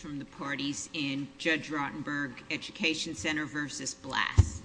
from the parties in Judge Rotenberg Education Center v. Blass.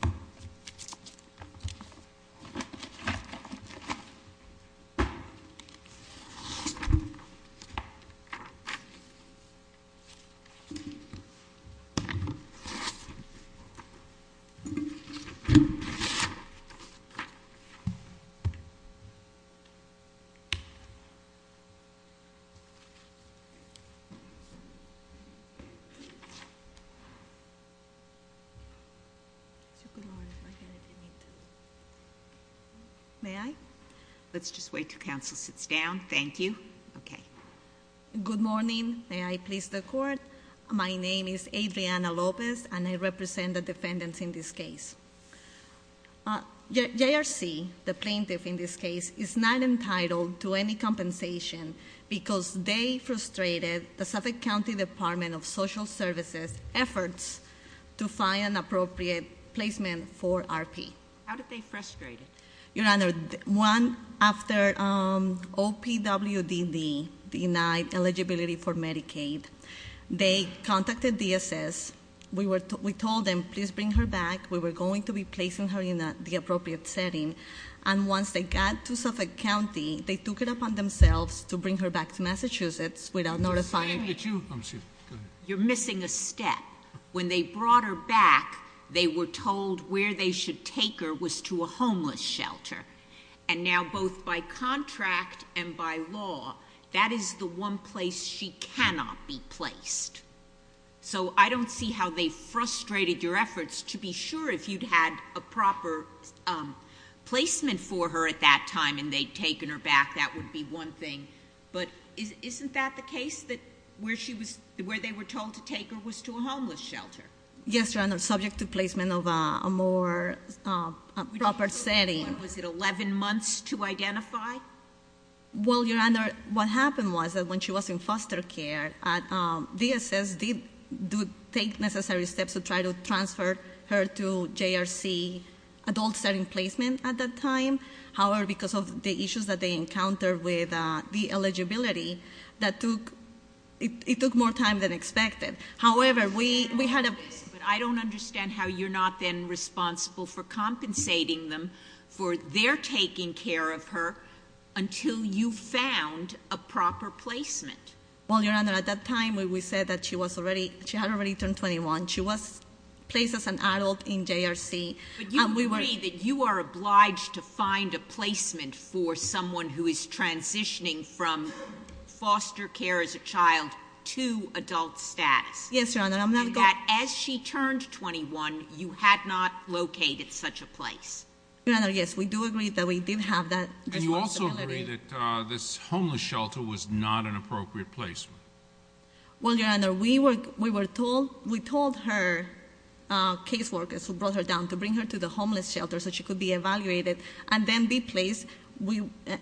May I? Let's just wait till counsel sits down. Thank you. Okay. Good morning. May I please the court? My name is Adriana Lopez and I represent the defendants in this case. JRC the plaintiff in this case is not entitled to any compensation because they frustrated the Suffolk County Department of Social Services efforts to find an appropriate placement for RP. How did they frustrate it? Your Honor, one after OPWDD denied eligibility for Medicaid. They contacted DSS. We told them please bring her back. We were going to be placing her in the appropriate setting. And once they got to Suffolk County, they took it upon themselves to bring her back to Massachusetts without notifying. It's you. You're missing a step. When they brought her back, they were told where they should take her was to a homeless shelter. And now both by contract and by law, that is the one place she cannot be placed. So I don't see how they frustrated your efforts to be sure if you'd had a proper placement for her at that time and they'd taken her back. That would be one thing. But isn't that the case that where they were told to take her was to a homeless shelter? Yes, Your Honor, subject to placement of a more proper setting. Was it 11 months to identify? Well, Your Honor, what happened was that when she was in foster care, DSS did take necessary steps to try to transfer her to JRC adult setting placement at that time. However, because of the issues that they encountered with the eligibility, it took more time than expected. However, we had a- Yes, but I don't understand how you're not then responsible for compensating them for their taking care of her until you found a proper placement. Well, Your Honor, at that time we said that she had already turned 21. She was placed as an adult in JRC and we were- But you agree that you are obliged to find a placement for someone who is transitioning from foster care as a child to adult status. Yes, Your Honor, I'm not- And that as she turned 21, you had not located such a place. Your Honor, yes, we do agree that we did have that responsibility. And you also agree that this homeless shelter was not an appropriate placement? Well, Your Honor, we told her case workers who brought her down to bring her to the homeless shelter so she could be evaluated and then be placed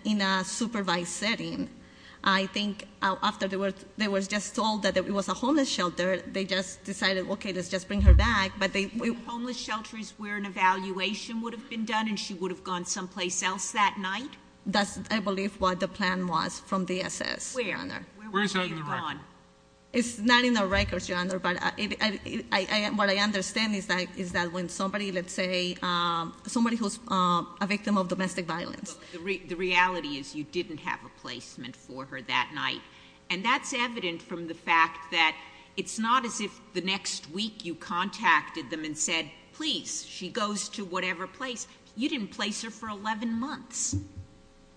in a supervised setting. I think after they were just told that it was a homeless shelter, they just decided, okay, let's just bring her back, but they- Homeless shelters where an evaluation would have been done and she would have gone someplace else that night? That's, I believe, what the plan was from DSS. Where? Where is that in the record? It's not in the records, Your Honor, but what I understand is that when somebody, let's say, somebody who's a victim of domestic violence. The reality is you didn't have a placement for her that night. And that's evident from the fact that it's not as if the next week you contacted them and said, please, she goes to whatever place, you didn't place her for 11 months.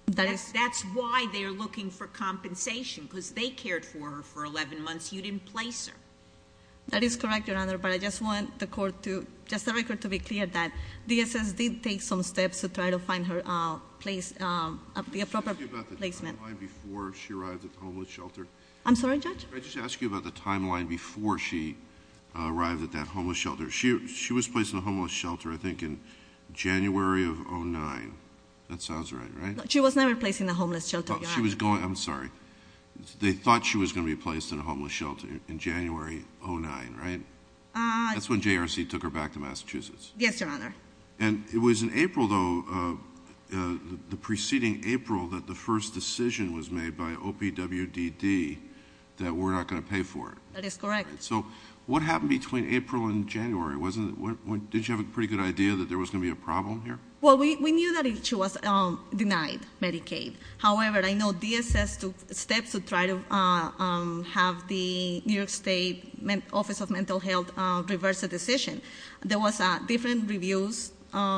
That's why they're looking for compensation, because they cared for her for 11 months. You didn't place her. That is correct, Your Honor, but I just want the court to, just the record to be clear that DSS did take some steps to try to find her place, the appropriate placement. Can I just ask you about the timeline before she arrived at the homeless shelter? I'm sorry, Judge? Can I just ask you about the timeline before she arrived at that homeless shelter? She was placed in a homeless shelter, I think, in January of 09. That sounds right, right? She was never placed in a homeless shelter, Your Honor. She was going, I'm sorry. They thought she was going to be placed in a homeless shelter in January 09, right? That's when JRC took her back to Massachusetts. Yes, Your Honor. And it was in April, though, the preceding April, that the first decision was made by OPWDD that we're not going to pay for it. That is correct. So what happened between April and January? Didn't you have a pretty good idea that there was going to be a problem here? Well, we knew that she was denied Medicaid. However, I know DSS took steps to try to have the New York State Office of Mental Health reverse the decision. There was different reviews, I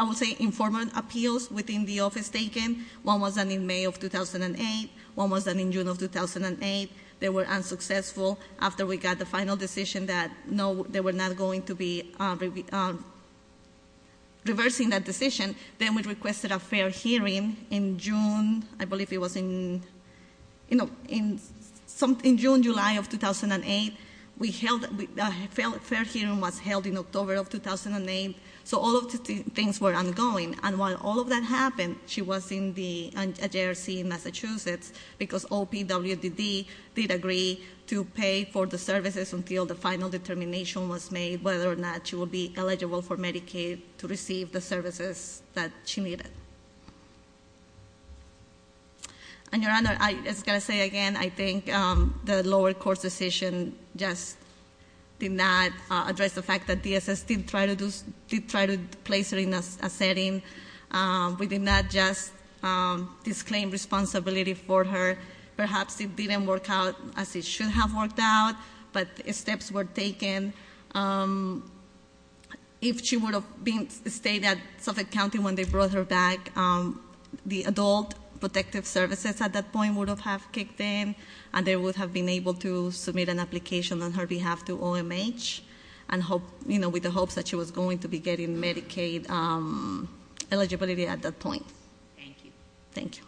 would say, informant appeals within the office taken. One was done in May of 2008, one was done in June of 2008. They were unsuccessful after we got the final decision that no, they were not going to be reversing that decision. Then we requested a fair hearing in June, I believe it was in June, July of 2008. The fair hearing was held in October of 2008, so all of the things were ongoing. And while all of that happened, she was in the JRC Massachusetts because OPWDD did agree to pay for the services until the final determination was made, whether or not she would be eligible for Medicaid to receive the services that she needed. And Your Honor, I just got to say again, I think the lower court's decision just did not address the fact that DSS did try to place her in a setting. We did not just disclaim responsibility for her. Perhaps it didn't work out as it should have worked out, but steps were taken. If she would have stayed at Suffolk County when they brought her back, the adult protective services at that point would have kicked in. And they would have been able to submit an application on her behalf to OMH, and with the hopes that she was going to be getting Medicaid eligibility at that point. Thank you. Thank you.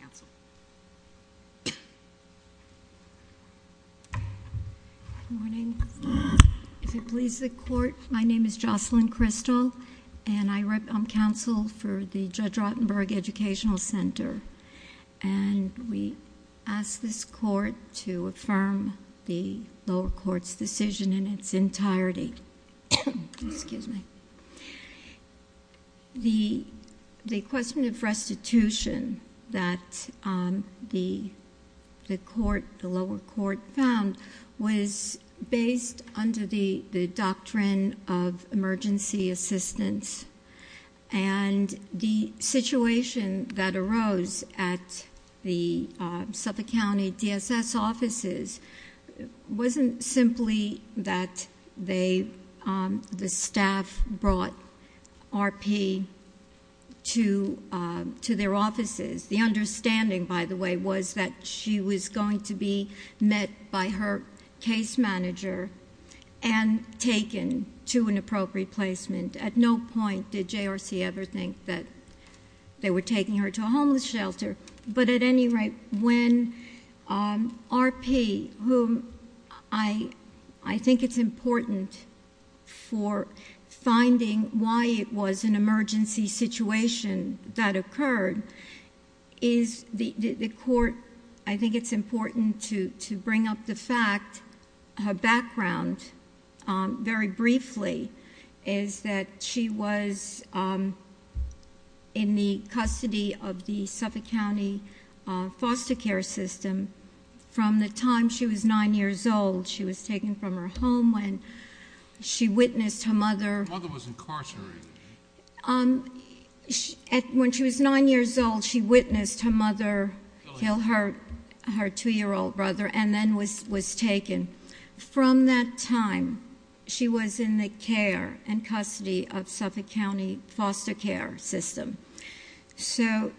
Counsel. Good morning. If it pleases the court, my name is Jocelyn Crystal, and I'm counsel for the Judge Rotenberg Educational Center. And we ask this court to affirm the lower court's decision in its entirety. Excuse me. The question of restitution that the lower court found was based under the doctrine of emergency assistance. And the situation that arose at the Suffolk County DSS offices wasn't simply that the staff brought RP to their offices. The understanding, by the way, was that she was going to be met by her case manager. And taken to an appropriate placement. At no point did JRC ever think that they were taking her to a homeless shelter. But at any rate, when RP, whom I think it's important for finding why it was an emergency situation that occurred, is the court, I think it's important to bring up the fact, her background, very briefly, is that she was in the custody of the Suffolk County foster care system. From the time she was nine years old, she was taken from her home when she witnessed her mother- Her mother was incarcerated. When she was nine years old, she witnessed her mother kill her two year old brother and then was taken. From that time, she was in the care and custody of Suffolk County foster care system. So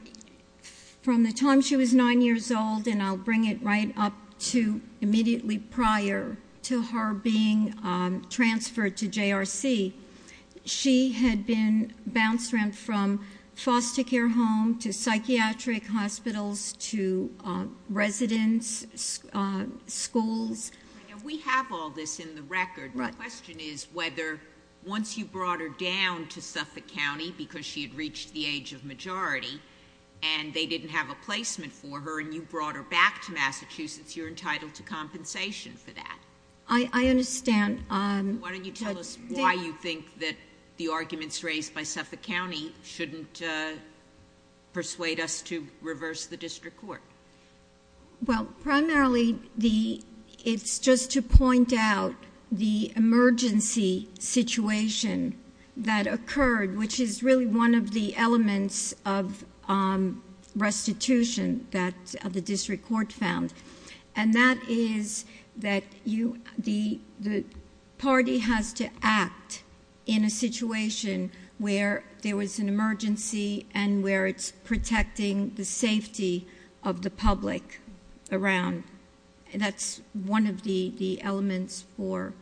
from the time she was nine years old, and I'll bring it right up to immediately prior to her being transferred to JRC, she had been bounced around from foster care home, to psychiatric hospitals, to residence, schools. We have all this in the record. The question is whether, once you brought her down to Suffolk County, because she had reached the age of majority, and they didn't have a placement for her, and you brought her back to Massachusetts, you're entitled to compensation for that. I understand. Why don't you tell us why you think that the arguments raised by Suffolk County shouldn't persuade us to reverse the district court? Well, primarily, it's just to point out the emergency situation that occurred, which is really one of the elements of restitution that the district court found. In a situation where there was an emergency and where it's protecting the safety of the public around. That's one of the elements for,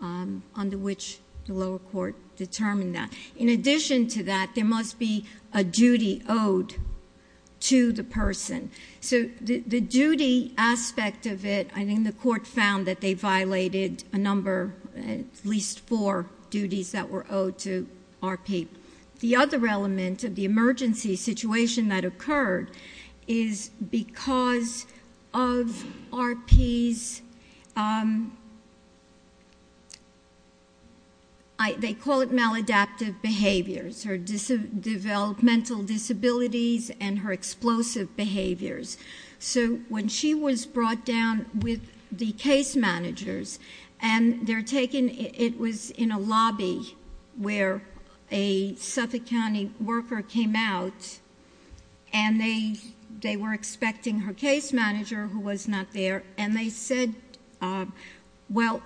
under which the lower court determined that. In addition to that, there must be a duty owed to the person. So the duty aspect of it, I think the court found that they violated a number, at least four duties that were owed to RP. The other element of the emergency situation that occurred is because of RP's, they call it maladaptive behaviors, her developmental disabilities and her explosive behaviors. So when she was brought down with the case managers, and they're taking, it was in a lobby where a Suffolk County worker came out. And they were expecting her case manager, who was not there. And they said, well,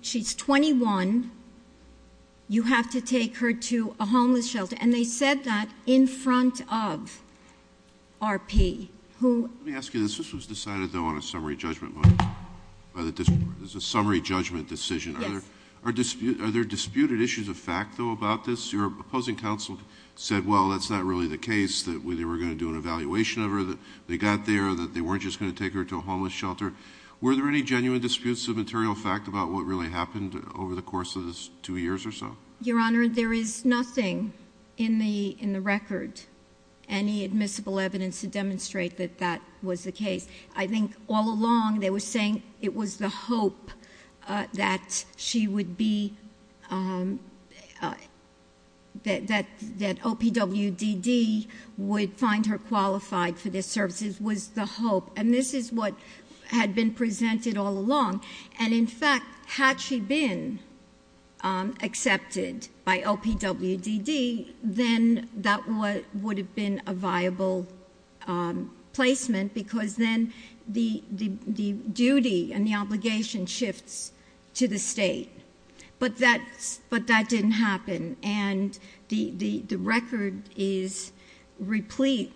she's 21, you have to take her to a homeless shelter. And they said that in front of RP, who- Let me ask you, this was decided, though, on a summary judgment motion. It was a summary judgment decision. Yes. Are there disputed issues of fact, though, about this? Your opposing counsel said, well, that's not really the case. That they were going to do an evaluation of her, that they got there, that they weren't just going to take her to a homeless shelter. Were there any genuine disputes of material fact about what really happened over the course of this two years or so? Your Honor, there is nothing in the record, any admissible evidence to demonstrate that that was the case. I think all along, they were saying it was the hope that she would be, that OPWDD would find her qualified for this services, was the hope. And this is what had been presented all along. And in fact, had she been accepted by OPWDD, then that would have been a viable placement, because then the duty and the obligation shifts to the state. But that didn't happen, and the record is replete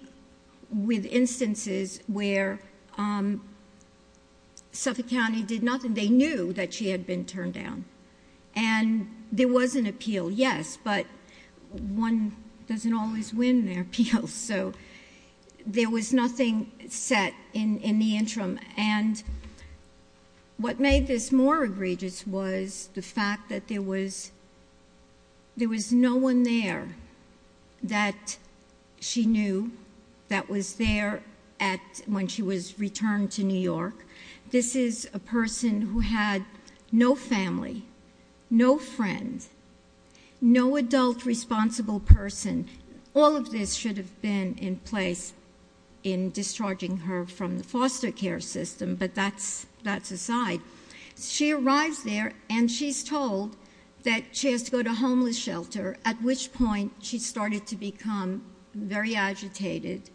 with instances where Suffolk County did nothing, they knew that she had been turned down. And there was an appeal, yes, but one doesn't always win an appeal, so there was nothing set in the interim. And what made this more egregious was the fact that there was no one there that she knew that was there when she was returned to New York. This is a person who had no family, no friends, no adult responsible person, all of this should have been in place in discharging her from the foster care system, but that's aside. She arrives there and she's told that she has to go to homeless shelter, at which point she started to become very agitated.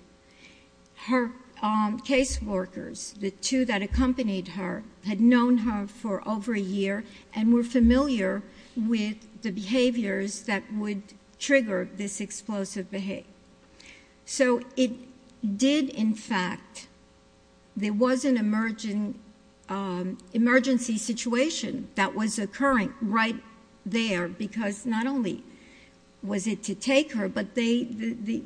Her case workers, the two that accompanied her, had known her for over a year and were familiar with the behaviors that would trigger this explosive. So it did in fact, there was an emergency situation that was occurring right there, because not only was it to take her, but the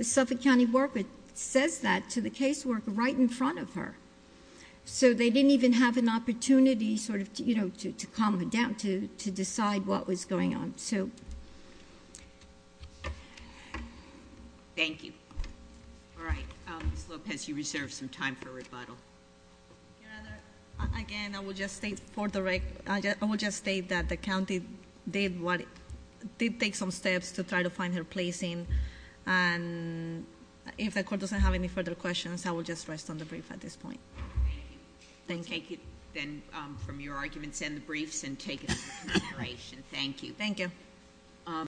Suffolk County worker says that to the case worker right in front of her. So they didn't even have an opportunity to calm her down, to decide what was going on. So. Thank you. All right, Ms. Lopez, you reserve some time for rebuttal. Your Honor, again, I will just state that the county did take some steps to try to find her place in. And if the court doesn't have any further questions, I will just rest on the brief at this point. Thank you. Then from your arguments and the briefs and take it into consideration. Thank you. Thank you.